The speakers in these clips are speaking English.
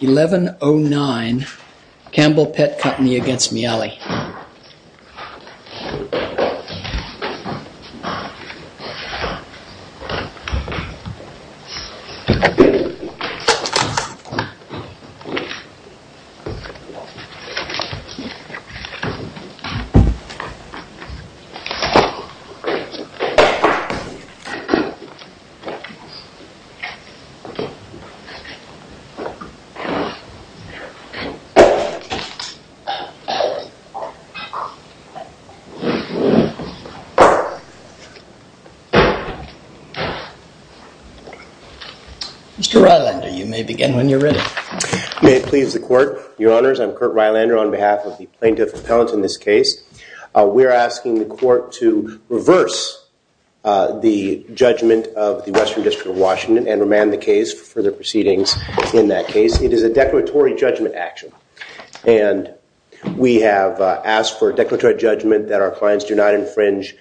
1109 Campbell Pet Company against Miale Mr. Rylander, you may begin when you're ready. May it please the court, your honors, I'm Kurt Rylander on behalf of the plaintiff appellant in this case. We're asking the court to reverse the judgment of the Western District of Washington and in this case it is a declaratory judgment action and we have asked for a declaratory judgment that our clients do not infringe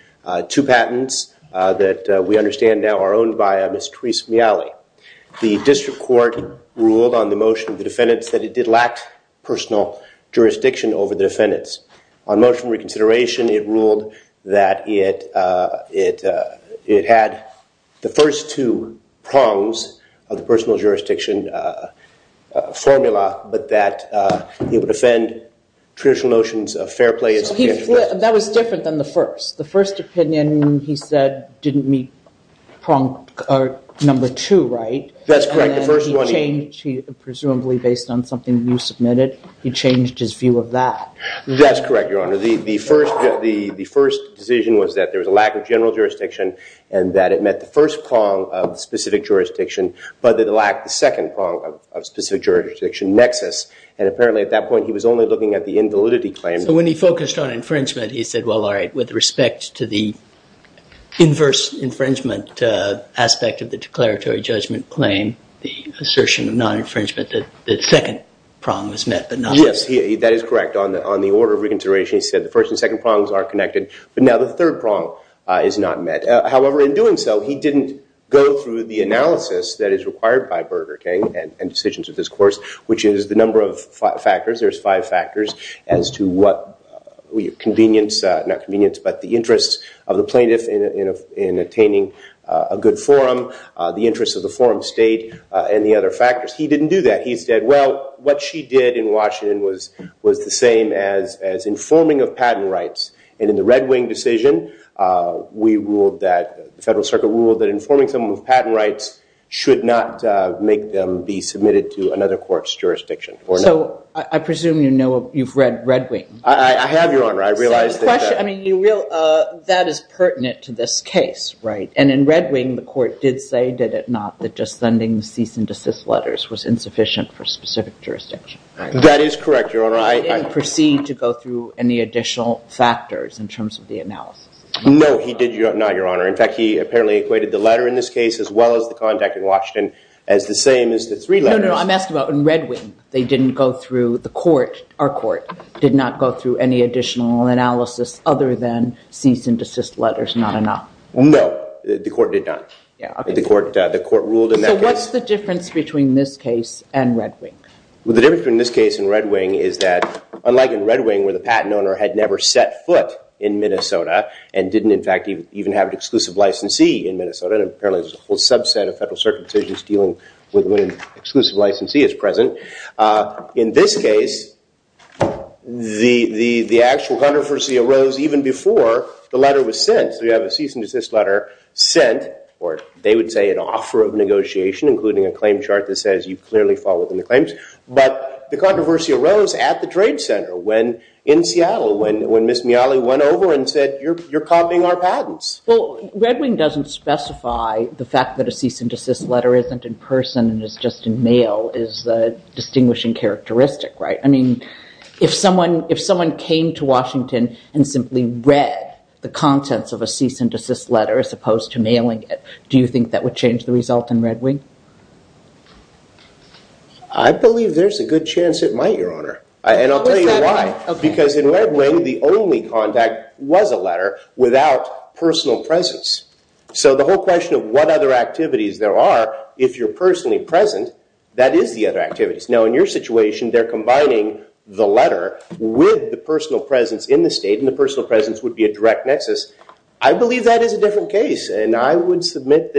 two patents that we understand now are owned by Ms. Therese Miale. The district court ruled on the motion of the defendants that it did lack personal jurisdiction over the defendants. On motion reconsideration it ruled that it had the first two prongs of the personal jurisdiction formula, but that it would offend traditional notions of fair play. That was different than the first. The first opinion, he said, didn't meet prong number two, right? That's correct. The first one, presumably based on something you submitted, he changed his view of that. That's correct, your honor. The first decision was that there was a lack of general jurisdiction and that it met the first prong of specific jurisdiction, but that it lacked the second prong of specific jurisdiction nexus, and apparently at that point he was only looking at the invalidity claim. So when he focused on infringement he said, well, all right, with respect to the inverse infringement aspect of the declaratory judgment claim, the assertion of non-infringement that the second prong was met, but not the first. That is correct. On the order of reconsideration he said the first and second prongs are connected, but now the third prong is not met. However, in doing so, he didn't go through the analysis that is required by Burger King and decisions of this course, which is the number of factors. There's five factors as to what the interest of the plaintiff in attaining a good forum, the interest of the forum state, and the other factors. He didn't do that. He said, well, what she did in Washington was the same as informing of patent rights. And in the Red Wing decision, the Federal Circuit ruled that informing someone of patent rights should not make them be submitted to another court's jurisdiction or not. So I presume you've read Red Wing. I have, Your Honor. I realize that that is pertinent to this case. And in Red Wing the court did say, did it not, that just sending cease and desist letters was insufficient for specific jurisdiction. That is correct, Your Honor. So he didn't proceed to go through any additional factors in terms of the analysis? No, he did not, Your Honor. In fact, he apparently equated the letter in this case as well as the contact in Washington as the same as the three letters. No, no, I'm asking about in Red Wing. They didn't go through, the court, our court, did not go through any additional analysis other than cease and desist letters not enough. No, the court did not. The court ruled in that case. So what's the difference between this case and Red Wing? Well, the difference between this case and Red Wing is that, unlike in Red Wing where the patent owner had never set foot in Minnesota and didn't, in fact, even have an exclusive licensee in Minnesota, and apparently there's a whole subset of federal circuit decisions dealing with when an exclusive licensee is present, in this case, the actual controversy arose even before the letter was sent. So you have a cease and desist letter sent, or they would say an offer of negotiation, including a claim chart that says you clearly fall within the claims. But the controversy arose at the Trade Center in Seattle when Ms. Miali went over and said, you're copying our patents. Well, Red Wing doesn't specify the fact that a cease and desist letter isn't in person and is just in mail is a distinguishing characteristic, right? I mean, if someone came to Washington and simply read the contents of a cease and desist letter as opposed to mailing it, do you think that would change the result in Red Wing? I believe there's a good chance it might, Your Honor. And I'll tell you why. Because in Red Wing, the only contact was a letter without personal presence. So the whole question of what other activities there are, if you're personally present, that is the other activities. Now, in your situation, they're combining the letter with the personal presence in the state, and the personal presence would be a direct nexus. I believe that is a different case. And I would submit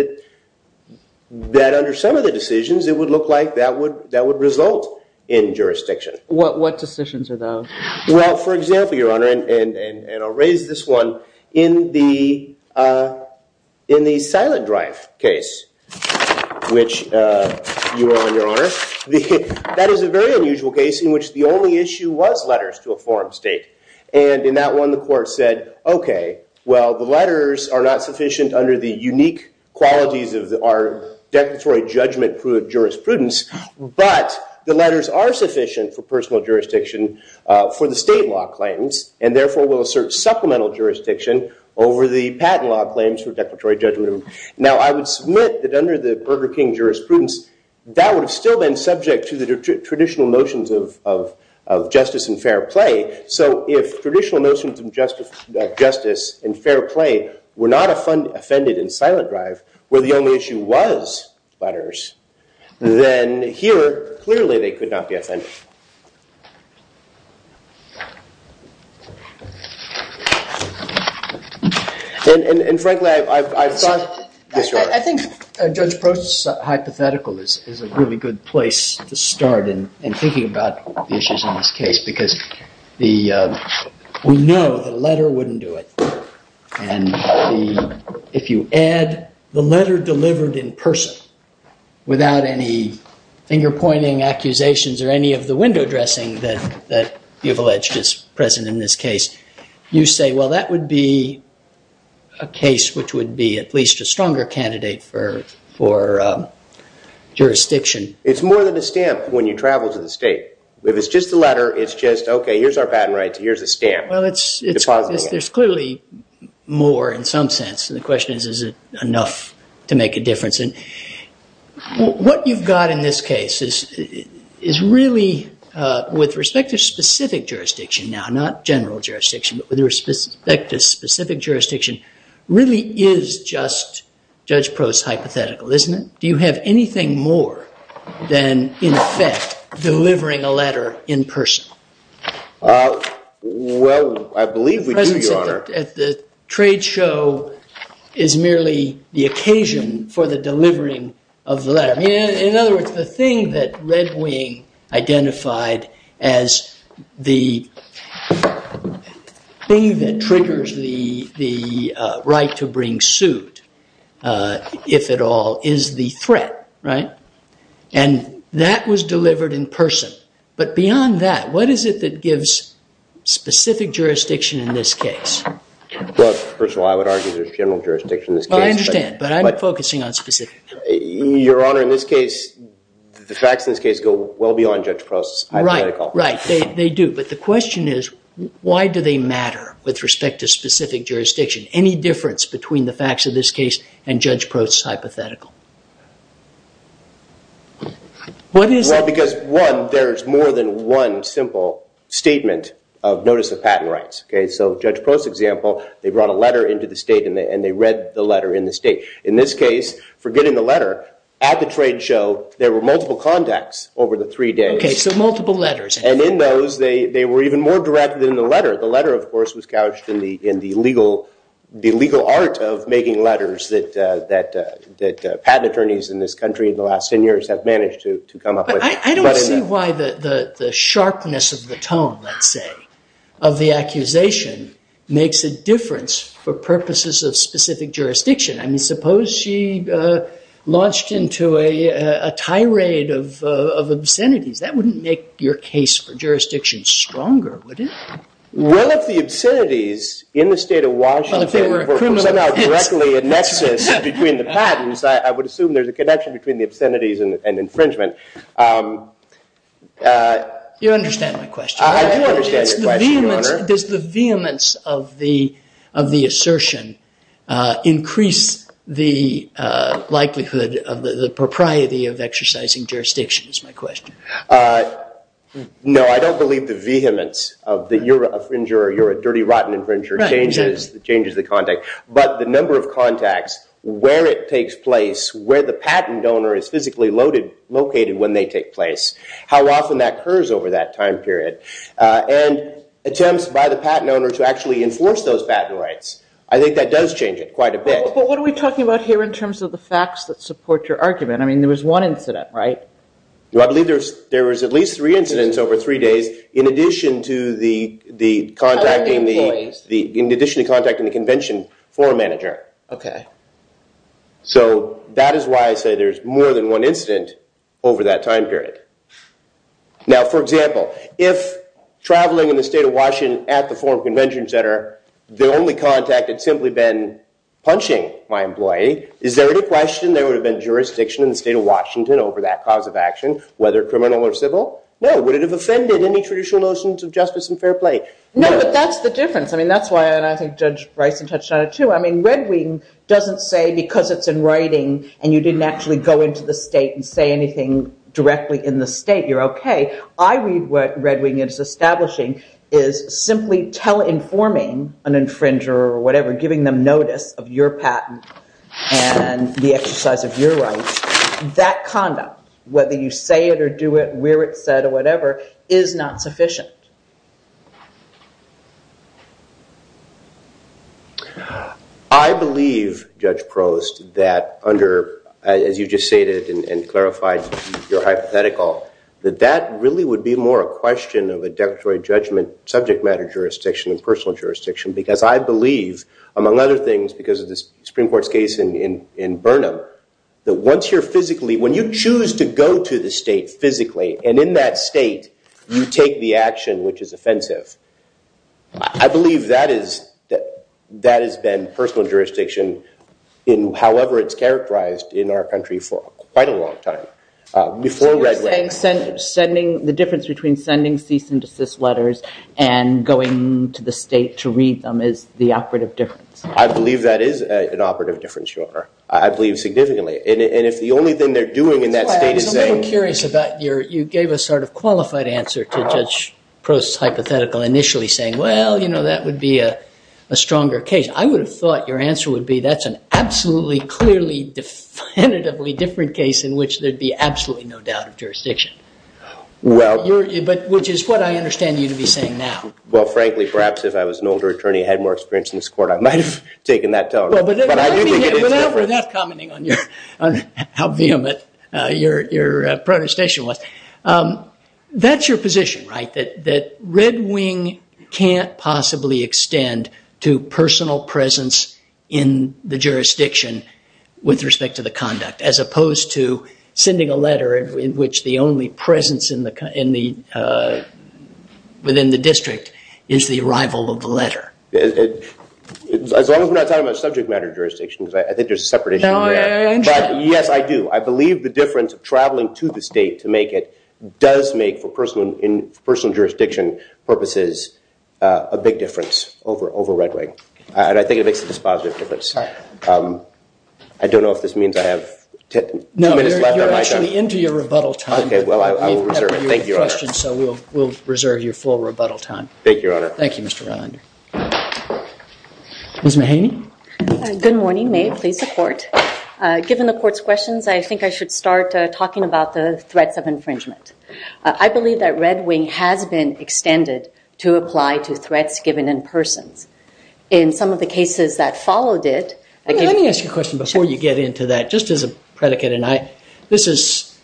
that under some of the decisions, it would look like that would result in jurisdiction. What decisions are those? Well, for example, Your Honor, and I'll raise this one, in the Silent Drive case, which you were on, Your Honor, that is a very unusual case in which the only issue was letters to a foreign state. And in that one, the court said, OK, well, the letters are not sufficient under the unique qualities of our declaratory judgment jurisprudence, but the letters are sufficient for personal jurisdiction for the state law claims, and therefore, will assert supplemental jurisdiction over the patent law claims for declaratory judgment. Now, I would submit that under the Burger King jurisprudence, that would have still been subject to the traditional notions of justice and fair play. So if traditional notions of justice and fair play were not offended in Silent Drive, where the only issue was letters, then here, clearly, they could not be offended. And frankly, I've thought this, Your Honor. I think Judge Prost's hypothetical is a really good place to start in thinking about the issues in this case, because we know that a letter wouldn't do it. And if you add the letter delivered in person without any finger-pointing accusations or any of the window dressing that you've alleged is present in this case, you say, well, that would be a case which would be at least a stronger candidate for jurisdiction. It's more than a stamp when you travel to the state. If it's just the letter, it's just, OK, here's our patent rights. Here's a stamp. Well, there's clearly more in some sense. And the question is, is it enough to make a difference? And what you've got in this case is really, with respect to specific jurisdiction now, not general jurisdiction, but with respect to specific jurisdiction, really is just Judge Prost's hypothetical, isn't it? Do you have anything more than, in effect, delivering a letter in person? Well, I believe we do, Your Honor. Presence at the trade show is merely the occasion for the delivering of the letter. In other words, the thing that Red Wing identified as the thing that triggers the right to bring suit, if at all, is the threat, right? And that was delivered in person. But beyond that, what is it that gives specific jurisdiction in this case? Well, first of all, I would argue there's general jurisdiction in this case. Well, I understand. But I'm focusing on specific. Your Honor, in this case, the facts in this case go well beyond Judge Prost's hypothetical. Right, they do. But the question is, why do they matter with respect to specific jurisdiction? Any difference between the facts of this case and Judge Prost's hypothetical? Well, because, one, there's more than one simple statement of notice of patent rights. So Judge Prost's example, they brought a letter into the state, and they read the letter in the state. In this case, forgetting the letter, at the trade show, there were multiple contacts over the three days. OK, so multiple letters. And in those, they were even more direct than the letter. The letter, of course, was couched in the legal art of making letters that patent attorneys in this country in the last 10 years have managed to come up with. But I don't see why the sharpness of the tone, let's say, of the accusation makes a difference for purposes of specific jurisdiction. I mean, suppose she launched into a tirade of obscenities. That wouldn't make your case for jurisdiction stronger, would it? Well, if the obscenities in the state of Washington were somehow directly a nexus between the patents, I would assume there's a connection between the obscenities and infringement. You understand my question. I do understand your question, Your Honor. Does the vehemence of the assertion increase the likelihood of the propriety of exercising jurisdiction, is my question. No. I don't believe the vehemence of that you're a dirty, rotten infringer changes the contact. But the number of contacts, where it takes place, where the patent donor is physically located when they take place, how often that occurs over that time period, and attempts by the patent owner to actually enforce those patent rights, I think that does change it quite a bit. But what are we talking about here in terms of the facts that support your argument? I mean, there was one incident, right? Well, I believe there was at least three incidents over three days in addition to contacting the convention forum manager. OK. So that is why I say there's more than one incident over that time period. Now, for example, if traveling in the state of Washington at the Forum Convention Center, the only contact had simply been punching my employee, is there any question there would have been jurisdiction in the state of Washington over that cause of action, whether criminal or civil? No. Would it have offended any traditional notions of justice and fair play? No, but that's the difference. I mean, that's why I think Judge Bryson touched on it, too. I mean, Red Wing doesn't say because it's in writing and you didn't actually go into the state and say anything directly in the state, you're OK. I read what Red Wing is establishing is simply tele-informing an infringer or whatever, giving them notice of your patent and the exercise of your rights. That conduct, whether you say it or do it, where it's said or whatever, is not sufficient. I believe, Judge Prost, that under, as you just stated and clarified your hypothetical, that that really would be more a question of a declaratory judgment, subject matter jurisdiction, and personal jurisdiction. Because I believe, among other things, because of the Supreme Court's case in Burnham, that once you're physically, when you choose to go to the state physically, and in that state you take the action which is offensive, I believe that has been personal jurisdiction in however it's characterized in our country for quite a long time. Before Red Wing. The difference between sending cease and desist letters and going to the state to read them I believe that is an operative difference, Your Honor. I believe significantly. And if the only thing they're doing in that state is saying. I'm curious about your, you gave a sort of qualified answer to Judge Prost's hypothetical initially saying, well, you know, that would be a stronger case. I would have thought your answer would be, that's an absolutely, clearly, definitively different case in which there'd be absolutely no doubt of jurisdiction. Well. But which is what I understand you to be saying now. Well, frankly, perhaps if I was an older attorney and had more experience in this court, I might have taken that to heart. But I do think it is true. But now we're not commenting on how vehement your protestation was. That's your position, right? That Red Wing can't possibly extend to personal presence in the jurisdiction with respect to the conduct, as opposed to sending a letter in which the only presence within the district is the arrival of the letter. As long as we're not talking about subject matter jurisdictions, I think there's a separate issue there. But yes, I do. I believe the difference of traveling to the state to make it does make, for personal jurisdiction purposes, a big difference over Red Wing. And I think it makes a dispositive difference. I don't know if this means I have two minutes left on my time. No, you're actually into your rebuttal time. OK, well, I will reserve it. Thank you, Your Honor. So we'll reserve your full rebuttal time. Thank you, Your Honor. Thank you, Mr. Rylander. Ms. Mahaney? Good morning. May it please the court? Given the court's questions, I think I should start talking about the threats of infringement. I believe that Red Wing has been extended to apply to threats given in persons. In some of the cases that followed it, I gave it to you. Let me ask you a question before you get into that, just as a predicate. This is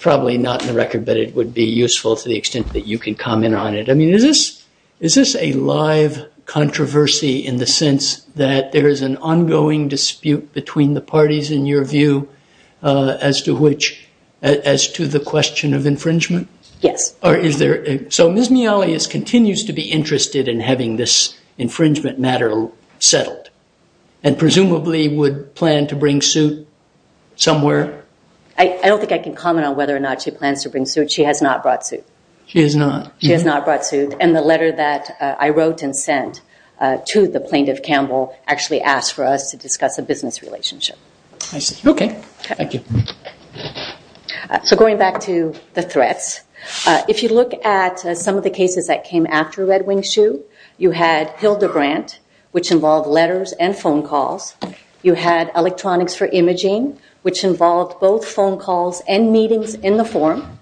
probably not in the record, but it would be useful to the extent that you can comment on it. Is this a live controversy in the sense that there is an ongoing dispute between the parties, in your view, as to the question of infringement? Yes. So Ms. Mialius continues to be interested in having this infringement matter settled, and presumably would plan to bring suit somewhere? I don't think I can comment on whether or not she plans to bring suit. She has not brought suit. She has not? She has not brought suit. And the letter that I wrote and sent to the plaintiff, Campbell, actually asked for us to discuss a business relationship. I see. OK. Thank you. So going back to the threats, if you look at some of the cases that came after Red Wing's shoe, you had Hildebrandt, which involved letters and phone calls. You had Electronics for Imaging, which involved both phone calls and meetings in the forum.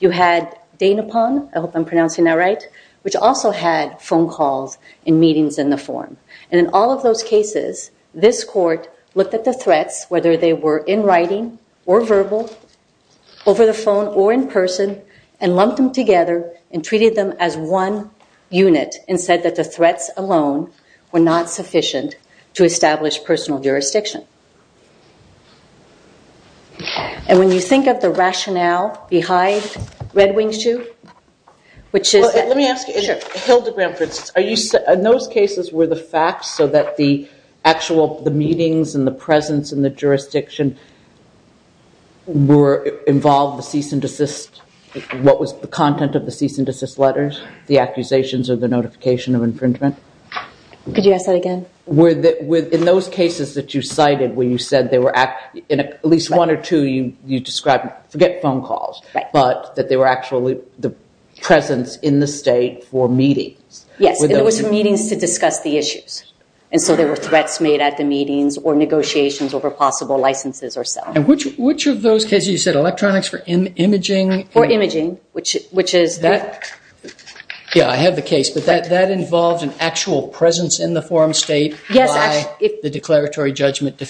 You had Danepon, I hope I'm pronouncing that right, which also had phone calls and meetings in the forum. And in all of those cases, this court looked at the threats, whether they were in writing or verbal, over the phone or in person, and lumped them together and treated them as one unit, and said that the threats alone were not sufficient to establish personal jurisdiction. And when you think of the rationale behind Red Wing's shoe, which is that- Let me ask you, Hildebrandt, for instance, in those cases, were the facts so that the actual meetings and the presence in the jurisdiction involved the cease and desist? What was the content of the cease and desist letters, the accusations or the notification of infringement? Could you ask that again? Were in those cases that you cite, where you said they were at least one or two, you described, forget phone calls, but that they were actually the presence in the state for meetings? Yes, it was meetings to discuss the issues. And so there were threats made at the meetings or negotiations over possible licenses or so. And which of those cases, you said electronics for imaging? For imaging, which is that- Yeah, I have the case, but that involved an actual presence in the forum state by the declaratory judgment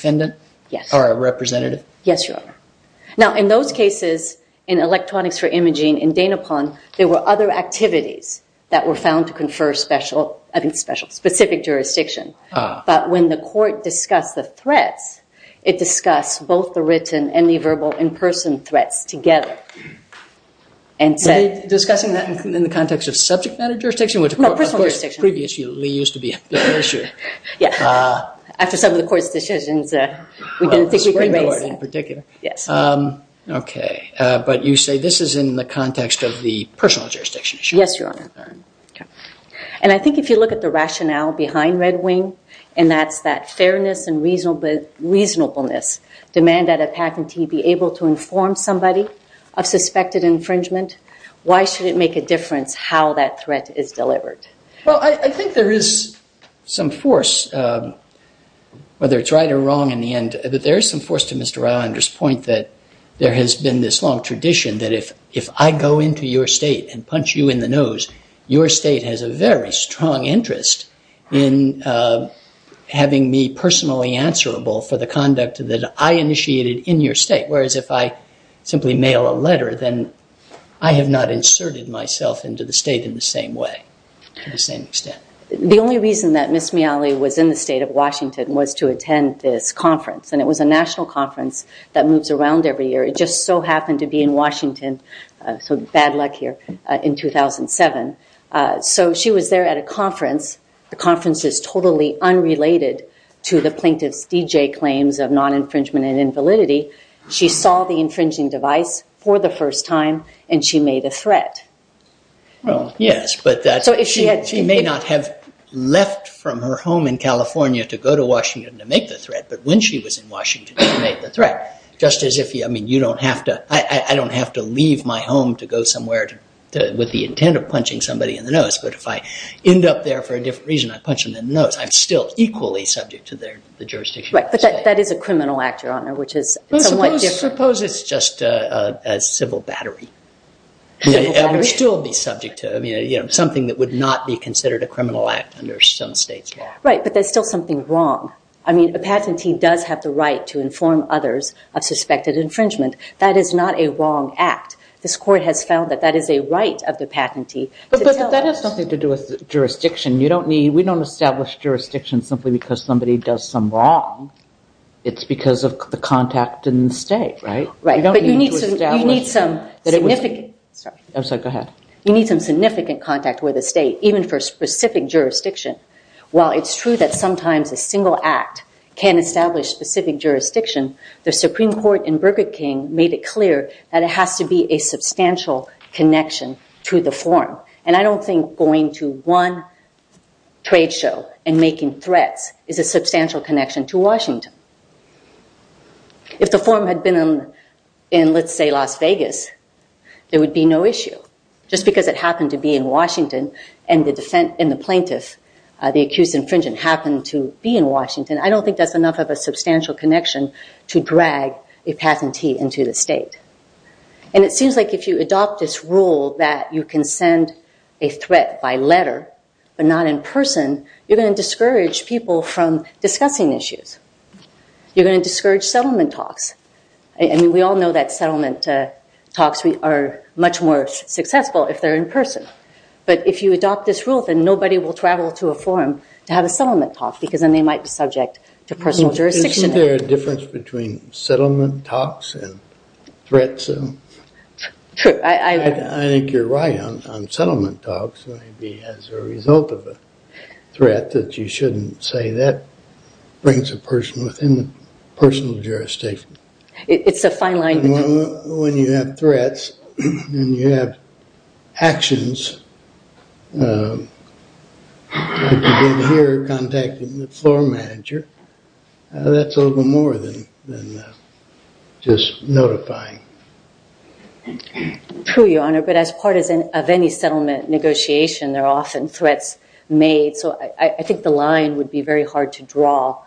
or a representative? Yes, you are. Now, in those cases, in electronics for imaging, in Dana Pond, there were other activities that were found to confer special, I think special, specific jurisdiction. But when the court discussed the threats, it discussed both the written and the verbal in-person threats together. And said- Were they discussing that in the context of subject matter jurisdiction, which of course- No, personal jurisdiction. Previously used to be an issue. Yeah. After some of the court's decisions, we didn't think we could raise that. The Supreme Court in particular. Yes. Okay, but you say this is in the context of the personal jurisdiction issue. Yes, Your Honor. And I think if you look at the rationale behind Red Wing, and that's that fairness and reasonableness, demand that a patentee be able to inform somebody of suspected infringement, why should it make a difference how that threat is delivered? Well, I think there is some force, whether it's right or wrong in the end, but there is some force to Mr. Rylander's point that there has been this long tradition that if I go into your state and punch you in the nose, your state has a very strong interest in having me personally answerable for the conduct that I initiated in your state. Whereas if I simply mail a letter, then I have not inserted myself into the state in the same way, to the same extent. The only reason that Ms. Miali was in the state of Washington was to attend this conference. And it was a national conference that moves around every year. It just so happened to be in Washington, so bad luck here, in 2007. So she was there at a conference. The conference is totally unrelated to the plaintiff's D.J. claims of non-infringement and invalidity. She saw the infringing device for the first time, and she made a threat. Yes, but she may not have left from her home in California to go to Washington to make the threat, but when she was in Washington, she made the threat. Just as if, I mean, you don't have to, I don't have to leave my home to go somewhere with the intent of punching somebody in the nose. But if I end up there for a different reason, I punch them in the nose, I'm still equally subject to the jurisdiction. Right, but that is a criminal act, Your Honor, which is somewhat different. Suppose it's just a civil battery. I would still be subject to, I mean, something that would not be considered a criminal act under some state's law. Right, but there's still something wrong. I mean, a patentee does have the right to inform others of suspected infringement. That is not a wrong act. This court has found that that is a right of the patentee to tell us. But that has something to do with jurisdiction. You don't need, we don't establish jurisdiction simply because somebody does some wrong. It's because of the contact in the state, right? Right, but you need to establish significant, sorry. I'm sorry, go ahead. You need some significant contact with the state, even for specific jurisdiction. While it's true that sometimes a single act can establish specific jurisdiction, the Supreme Court in Burger King made it clear that it has to be a substantial connection to the form. And I don't think going to one trade show and making threats is a substantial connection to Washington. If the form had been in, let's say, Las Vegas, there would be no issue. Just because it happened to be in Washington and the plaintiff, the accused infringent, happened to be in Washington, I don't think that's enough of a substantial connection to drag a patentee into the state. And it seems like if you adopt this rule that you can send a threat by letter, but not in person, you're going to discourage people from discussing issues. You're going to discourage settlement talks. I mean, we all know that settlement talks are much more successful if they're in person. But if you adopt this rule, then nobody will travel to a forum to have a settlement talk because then they might be subject to personal jurisdiction. Is there a difference between settlement talks and threats? True. I think you're right on settlement talks, maybe as a result of a threat that you shouldn't say that brings a person within the personal jurisdiction. It's a fine line. When you have threats and you have actions, but you've been here contacting the floor manager, that's a little bit more than just notifying. True, Your Honor. But as part of any settlement negotiation, there are often threats made. So I think the line would be very hard to draw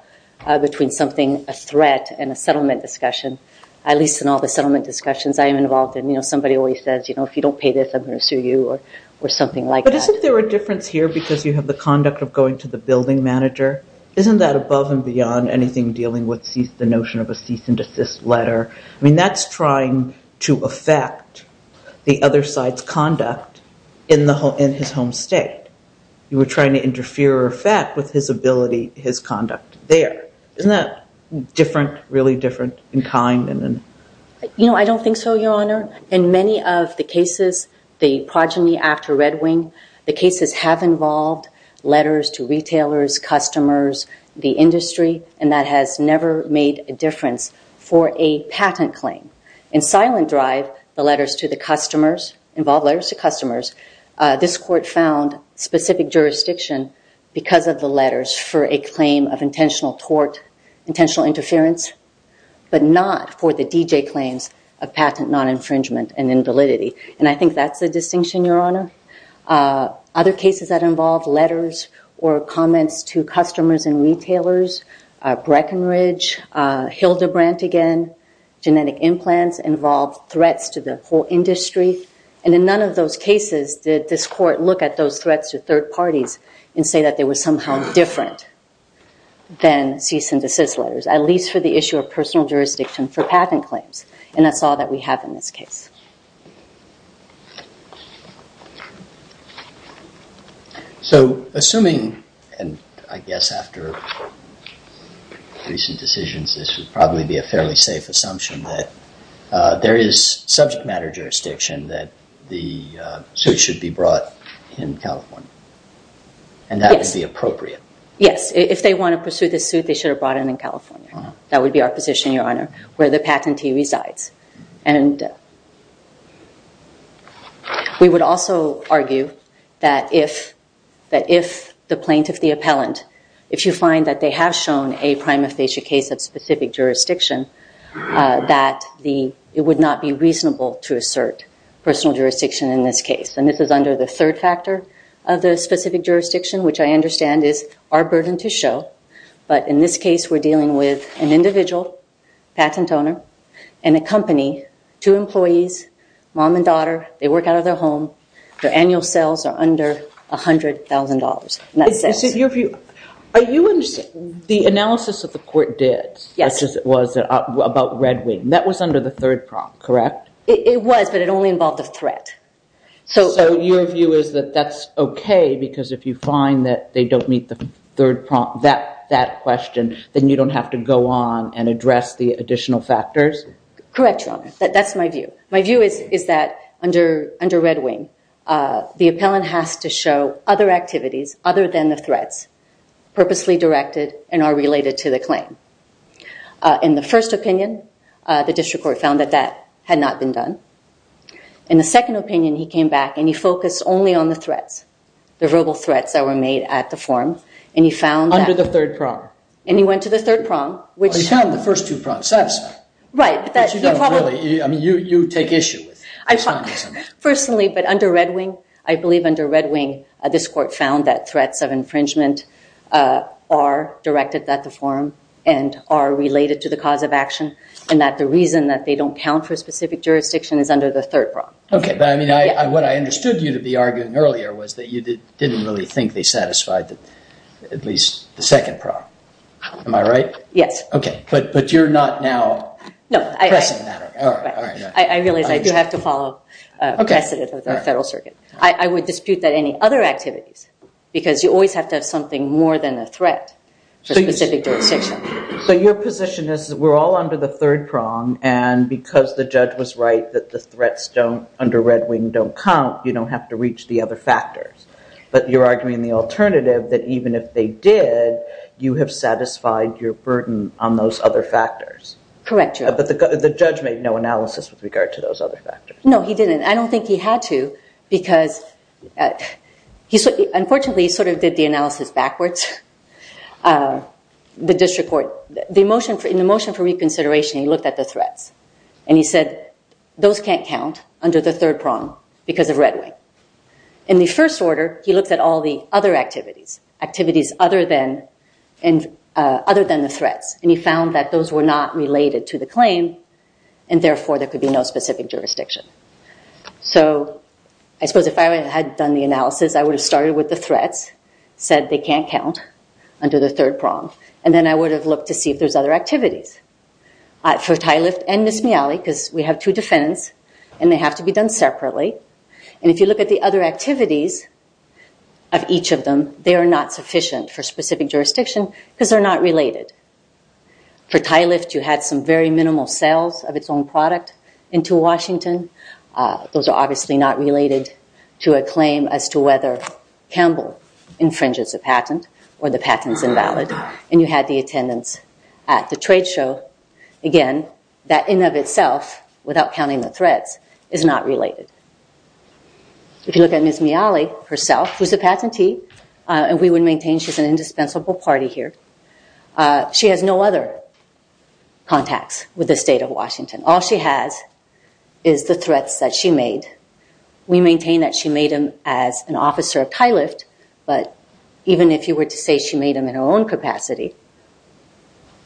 between something, a threat, and a settlement discussion, at least in all the settlement discussions I am involved in. Somebody always says, if you don't pay this, I'm going to sue you, or something like that. But isn't there a difference here because you have the conduct of going to the building manager? Isn't that above and beyond anything dealing with the notion of a cease and desist letter? I mean, that's trying to affect the other side's conduct in his home state. You were trying to interfere or affect with his ability, his conduct there. Isn't that different, really different in kind? You know, I don't think so, Your Honor. In many of the cases, the progeny after Red Wing, the cases have involved letters to retailers, customers, the industry, and that has never made a difference for a patent claim. In Silent Drive, the letters to the customers, involved letters to customers, this court found specific jurisdiction because of the letters for a claim of intentional tort, intentional interference, but not for the DJ claims of patent non-infringement and invalidity. And I think that's the distinction, Your Honor. Other cases that involve letters or comments to customers and retailers, Breckenridge, Hildebrandt again, genetic implants involved threats to the whole industry. And in none of those cases, did this court look at those threats to third parties and say that they were somehow different than cease and desist letters, at least for the issue of personal jurisdiction for patent claims. And that's all that we have in this case. So assuming, and I guess after recent decisions, this would probably be a fairly safe assumption that there is subject matter jurisdiction that the suit should be brought in California. And that would be appropriate. Yes, if they wanna pursue the suit, they should have brought it in California. That would be our position, Your Honor, where the patentee resides. And we would also argue that if the plaintiff, the appellant, if you find that they have shown a prima facie case of specific jurisdiction, that it would not be reasonable to assert personal jurisdiction in this case. And this is under the third factor of the specific jurisdiction, which I understand is our burden to show. But in this case, we're dealing with an individual, patent owner, and a company, two employees, mom and daughter, they work out of their home. Their annual sales are under $100,000. And that says- Are you understanding, the analysis that the court did, as it was about Red Wing, that was under the third prompt, correct? It was, but it only involved a threat. So your view is that that's okay, because if you find that they don't meet the third prompt, that question, then you don't have to go on and address the additional factors? Correct, Your Honor, that's my view. My view is that under Red Wing, the appellant has to show other activities other than the threats, purposely directed, and are related to the claim. In the first opinion, the district court found that that had not been done. In the second opinion, he came back and he focused only on the threats, the verbal threats that were made at the forum, and he found that- Under the third prompt. And he went to the third prompt, which- He found the first two prompts satisfying. Right, but that- But you don't really, I mean, you take issue with- I find, personally, but under Red Wing, I believe under Red Wing, this court found that threats of infringement are directed at the forum and are related to the cause of action, and that the reason that they don't count for a specific jurisdiction is under the third prompt. Okay, but I mean, what I understood you to be arguing earlier was that you didn't really think they satisfied at least the second prompt. Am I right? Yes. Okay, but you're not now- No, I- Pressing that, all right. I realize I do have to follow precedent of the Federal Circuit. I would dispute that any other activities, because you always have to have something more than a threat for a specific jurisdiction. So your position is we're all under the third prompt, and because the judge was right that the threats under Red Wing don't count, you don't have to reach the other factors. But you're arguing the alternative that even if they did, you have satisfied your burden on those other factors. Correct, Your Honor. But the judge made no analysis with regard to those other factors. No, he didn't. I don't think he had to, because he, unfortunately, sort of did the analysis backwards. The district court, in the motion for reconsideration, he looked at the threats, and he said those can't count under the third prompt because of Red Wing. In the first order, he looked at all the other activities, activities other than the threats, and he found that those were not related to the claim, and therefore, there could be no specific jurisdiction. So I suppose if I had done the analysis, I would have started with the threats, said they can't count under the third prompt, and then I would have looked to see if there's other activities. For Ty Lift and Miss Mealy, because we have two defendants, and they have to be done separately, and if you look at the other activities of each of them, they are not sufficient for specific jurisdiction because they're not related. For Ty Lift, you had some very minimal sales of its own product into Washington. Those are obviously not related to a claim as to whether Campbell infringes a patent or the patent's invalid, and you had the attendance at the trade show. Again, that in and of itself, without counting the threats, is not related. If you look at Miss Mealy herself, who's a patentee, and we would maintain she's an indispensable party here, she has no other contacts with the state of Washington. All she has is the threats that she made. We maintain that she made them as an officer of Ty Lift, but even if you were to say she made them in her own capacity,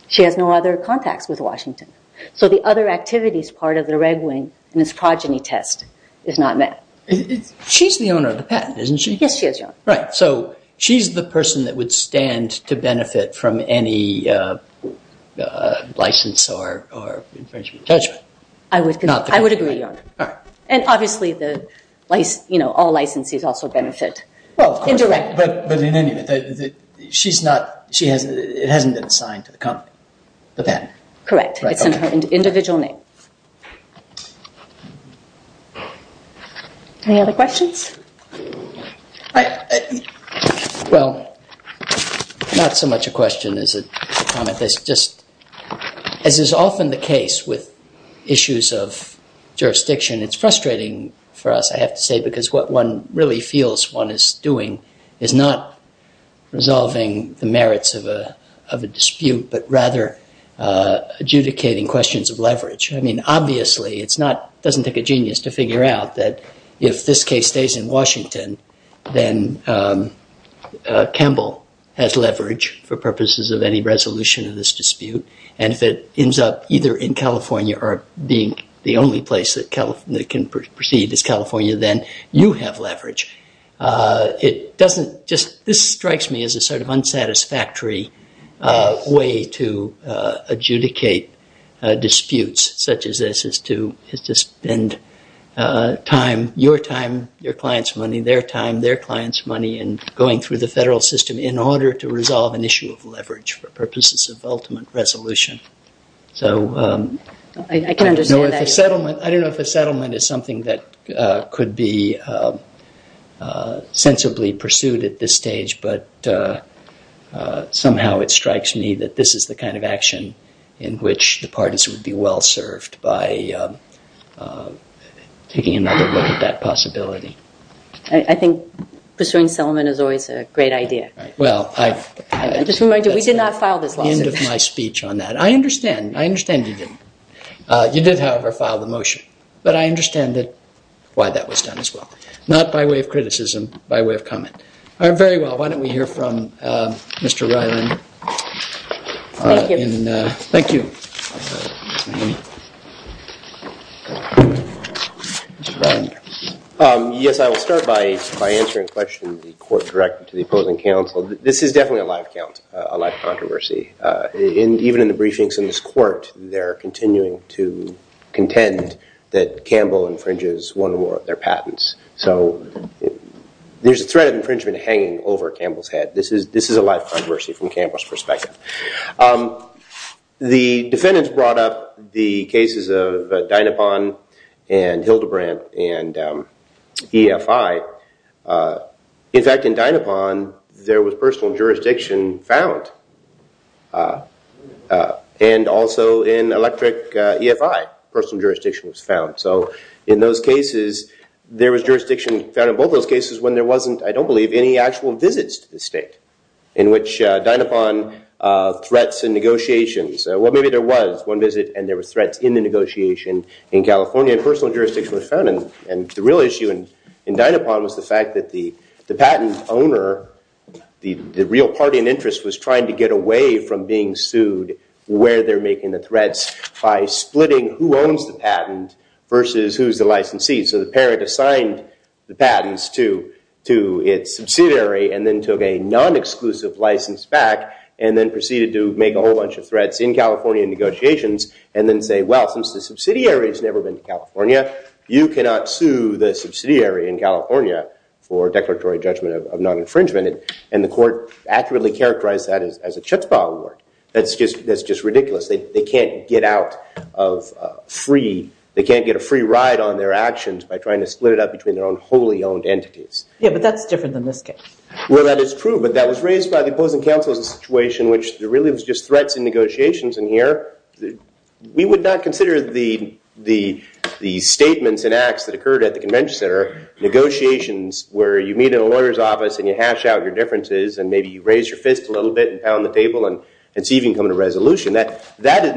she has no other contacts with Washington. So the other activities part of the reg wing in this progeny test is not met. She's the owner of the patent, isn't she? Yes, she is, Your Honor. Right, so she's the person that would stand to benefit from any license or infringement. Judgment. I would agree, Your Honor. And obviously, all licensees also benefit. Well, of course. Indirectly. But in any event, it hasn't been assigned to the company, the patent. Correct, it's in her individual name. Any other questions? Well, not so much a question as a comment. It's just, as is often the case with issues of jurisdiction, it's frustrating for us, I have to say, because what one really feels one is doing is not resolving the merits of a dispute, but rather adjudicating questions of leverage. I mean, obviously, it's not, it doesn't take a genius to figure out that if this case stays in Washington, then Campbell has leverage for purposes of any resolution of this dispute. And if it ends up either in California or being the only place that can proceed as California, then you have leverage. It doesn't just, this strikes me as a sort of unsatisfactory way to adjudicate disputes such as this as to spend time, your time, your client's money, their time, their client's money in going through the federal system in order to resolve an issue of leverage for purposes of ultimate resolution. So I don't know if a settlement is something that could be sensibly pursued at this stage, but somehow it strikes me that this is the kind of action in which the pardons would be well-served by taking another look at that possibility. I think pursuing settlement is always a great idea. Well, I- I just want to remind you, we did not file this lawsuit. That's the end of my speech on that. I understand, I understand you didn't. You did, however, file the motion, but I understand that, why that was done as well. Not by way of criticism, by way of comment. All right, very well, why don't we hear from Mr. Ryland. Thank you. Thank you. Yes, I will start by answering a question the court directed to the opposing counsel. This is definitely a live count, a live controversy. Even in the briefings in this court, they're continuing to contend that Campbell infringes one or more of their patents. So there's a threat of infringement hanging over Campbell's head. This is a live controversy from Campbell's perspective. The defendants brought up the cases of Dynapon and Hildebrandt and EFI. In fact, in Dynapon, there was personal jurisdiction found. And also in Electric EFI, personal jurisdiction was found. So in those cases, there was jurisdiction found in both those cases when there wasn't, I don't believe, any actual visits to the state. In which Dynapon, threats and negotiations. Well, maybe there was one visit, and there were threats in the negotiation. In California, personal jurisdiction was found. And the real issue in Dynapon was the fact that the patent owner, the real party in interest, was trying to get away from being sued where they're making the threats by splitting who owns the patent versus who's the licensee. So the parent assigned the patents to its subsidiary and then took a non-exclusive license back and then proceeded to make a whole bunch of threats in California negotiations and then say, well, since the subsidiary's never been to California, you cannot sue the subsidiary in California for declaratory judgment of non-infringement. And the court accurately characterized that as a chutzpah award. That's just ridiculous. They can't get out of free, they can't get a free ride on their actions by trying to split it up between their own wholly owned entities. Yeah, but that's different than this case. Well, that is true, but that was raised by the opposing counsel as a situation which really was just threats in negotiations in here. We would not consider the statements and acts that occurred at the convention center negotiations where you meet in a lawyer's office and you hash out your differences and maybe you raise your fist a little bit and pound the table and see if you can come to a resolution. That did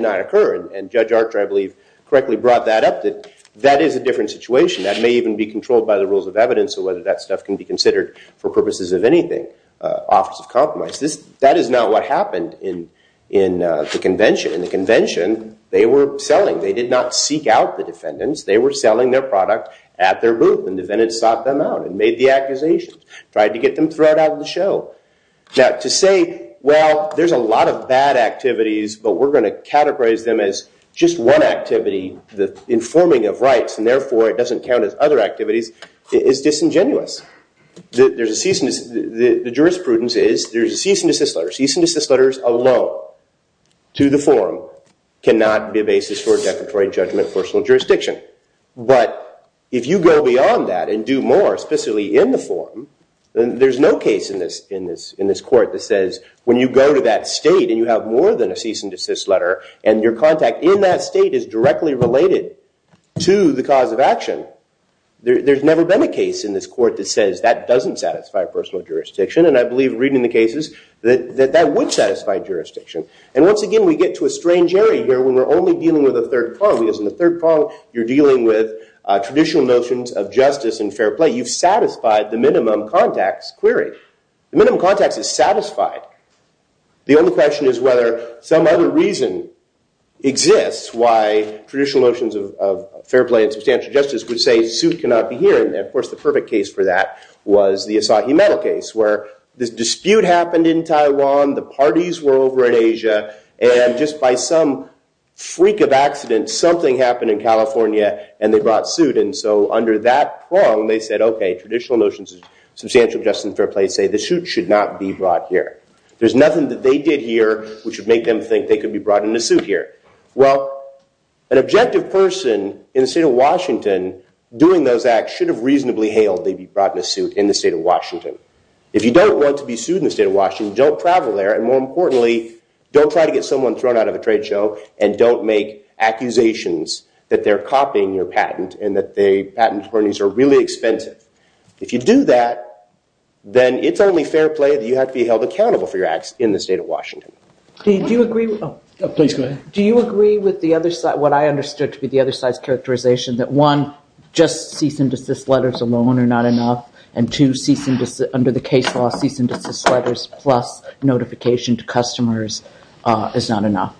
not occur. And Judge Archer, I believe, correctly brought that up that that is a different situation. That may even be controlled by the rules of evidence or whether that stuff can be considered for purposes of anything. Office of Compromise. That is not what happened in the convention. In the convention, they were selling. They did not seek out the defendants. They were selling their product at their booth and defendants sought them out and made the accusations, tried to get them thrown out of the show. Now, to say, well, there's a lot of bad activities, but we're gonna categorize them as just one activity, the informing of rights, and therefore, it doesn't count as other activities, is disingenuous. The jurisprudence is there's a cease and desist letter. Cease and desist letters alone to the forum cannot be a basis for a declaratory judgment of personal jurisdiction. But if you go beyond that and do more, especially in the forum, then there's no case in this court that says when you go to that state and you have more than a cease and desist letter and your contact in that state is directly related to the cause of action, there's never been a case in this court that says that doesn't satisfy personal jurisdiction. And I believe reading the cases that that would satisfy jurisdiction. And once again, we get to a strange area here when we're only dealing with a third prong. Because in the third prong, you're dealing with traditional notions of justice and fair play. You've satisfied the minimum contacts query. The minimum contacts is satisfied. The only question is whether some other reason exists why traditional notions of fair play and substantial justice would say suit cannot be here. And of course, the perfect case for that was the Asahi Metal case, where this dispute happened in Taiwan, the parties were over in Asia, and just by some freak of accident, something happened in California and they brought suit. And so under that prong, they said, okay, traditional notions of substantial justice and fair play say the suit should not be brought here. There's nothing that they did here which would make them think that they could be brought in a suit here. Well, an objective person in the state of Washington doing those acts should have reasonably hailed they be brought in a suit in the state of Washington. If you don't want to be sued in the state of Washington, don't travel there, and more importantly, don't try to get someone thrown out of a trade show and don't make accusations that they're copying your patent and that the patent attorneys are really expensive. If you do that, then it's only fair play that you have to be held accountable for your acts in the state of Washington. Do you agree with the other side, what I understood to be the other side's characterization that one, just cease and desist letters alone are not enough and two, under the case law, cease and desist letters plus notification to customers is not enough?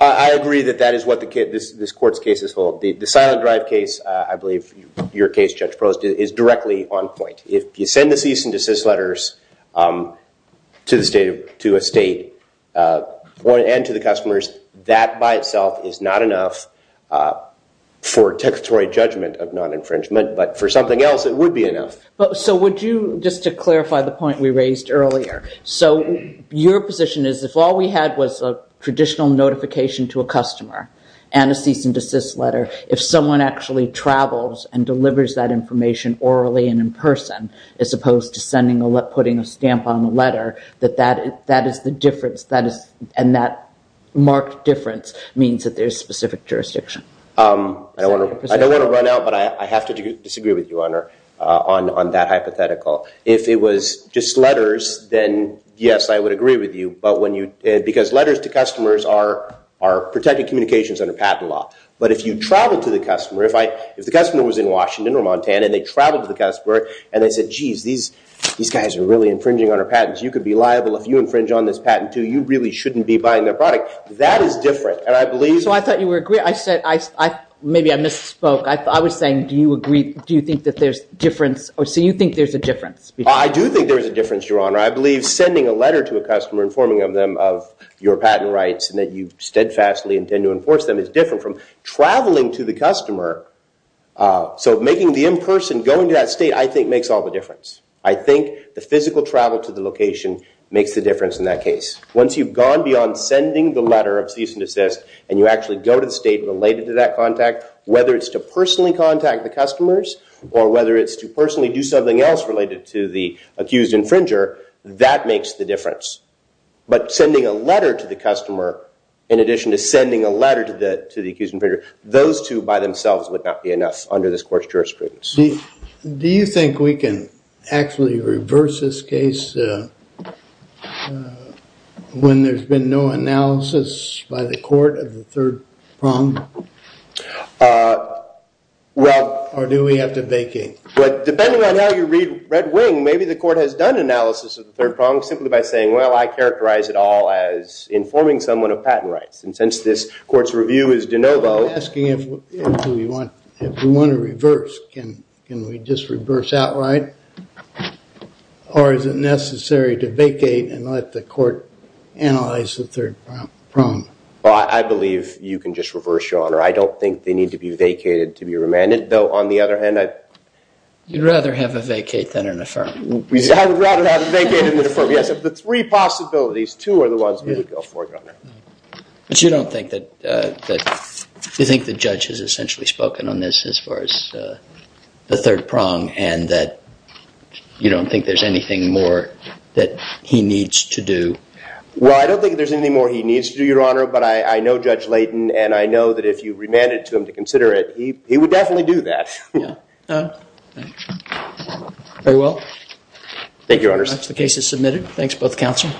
I agree that that is what this court's cases hold. The silent drive case, I believe your case, Judge Prost, is directly on point. If you send the cease and desist letters to a state and to the customers, that by itself is not enough for a textual judgment of non-infringement, but for something else, it would be enough. So would you, just to clarify the point we raised earlier, so your position is if all we had was a traditional notification to a customer and a cease and desist letter, if someone actually travels and delivers that information orally and in person as opposed to putting a stamp on the letter, that that is the difference and that marked difference means that there's specific jurisdiction? I don't want to run out, but I have to disagree with you on that hypothetical. If it was just letters, then yes, I would agree with you. Because letters to customers are protected communications under patent law. But if you travel to the customer, if the customer was in Washington or Montana and they traveled to the customer and they said, "'Geez, these guys are really infringing on our patents. "'You could be liable if you infringe on this patent too. "'You really shouldn't be buying their product.'" That is different, and I believe- So I thought you would agree. I said, maybe I misspoke. I was saying, do you agree, do you think that there's difference, or so you think there's a difference? I do think there is a difference, Your Honor. I believe sending a letter to a customer informing them of your patent rights and that you steadfastly intend to enforce them is different from traveling to the customer. So making the in-person, going to that state, I think makes all the difference. I think the physical travel to the location makes the difference in that case. Once you've gone beyond sending the letter of cease and desist, and you actually go to the state related to that contact, whether it's to personally contact the customers or whether it's to personally do something else related to the accused infringer, that makes the difference. But sending a letter to the customer in addition to sending a letter to the accused infringer, those two by themselves would not be enough under this court's jurisprudence. Do you think we can actually reverse this case when there's been no analysis by the court of the third prong? Or do we have to vacate? Well, depending on how you read Red Wing, maybe the court has done analysis of the third prong simply by saying, well, I characterize it all as informing someone of patent rights. And since this court's review is de novo- I'm asking if we want to reverse. Can we just reverse outright? Or is it necessary to vacate and let the court analyze the third prong? Well, I believe you can just reverse, Your Honor. I don't think they need to be vacated to be remanded. Though, on the other hand, I- You'd rather have a vacate than an affirm. I would rather have a vacate than an affirm. Yes, of the three possibilities, two are the ones we would go for, Your Honor. But you don't think that- You think the judge has essentially spoken on this as far as the third prong and that you don't think there's anything more that he needs to do? Well, I don't think there's anything more he needs to do, Your Honor, but I know Judge Layton and I know that if you remanded to him to consider it, he would definitely do that. Very well. Thank you, Your Honor. The case is submitted. Thanks, both counsel.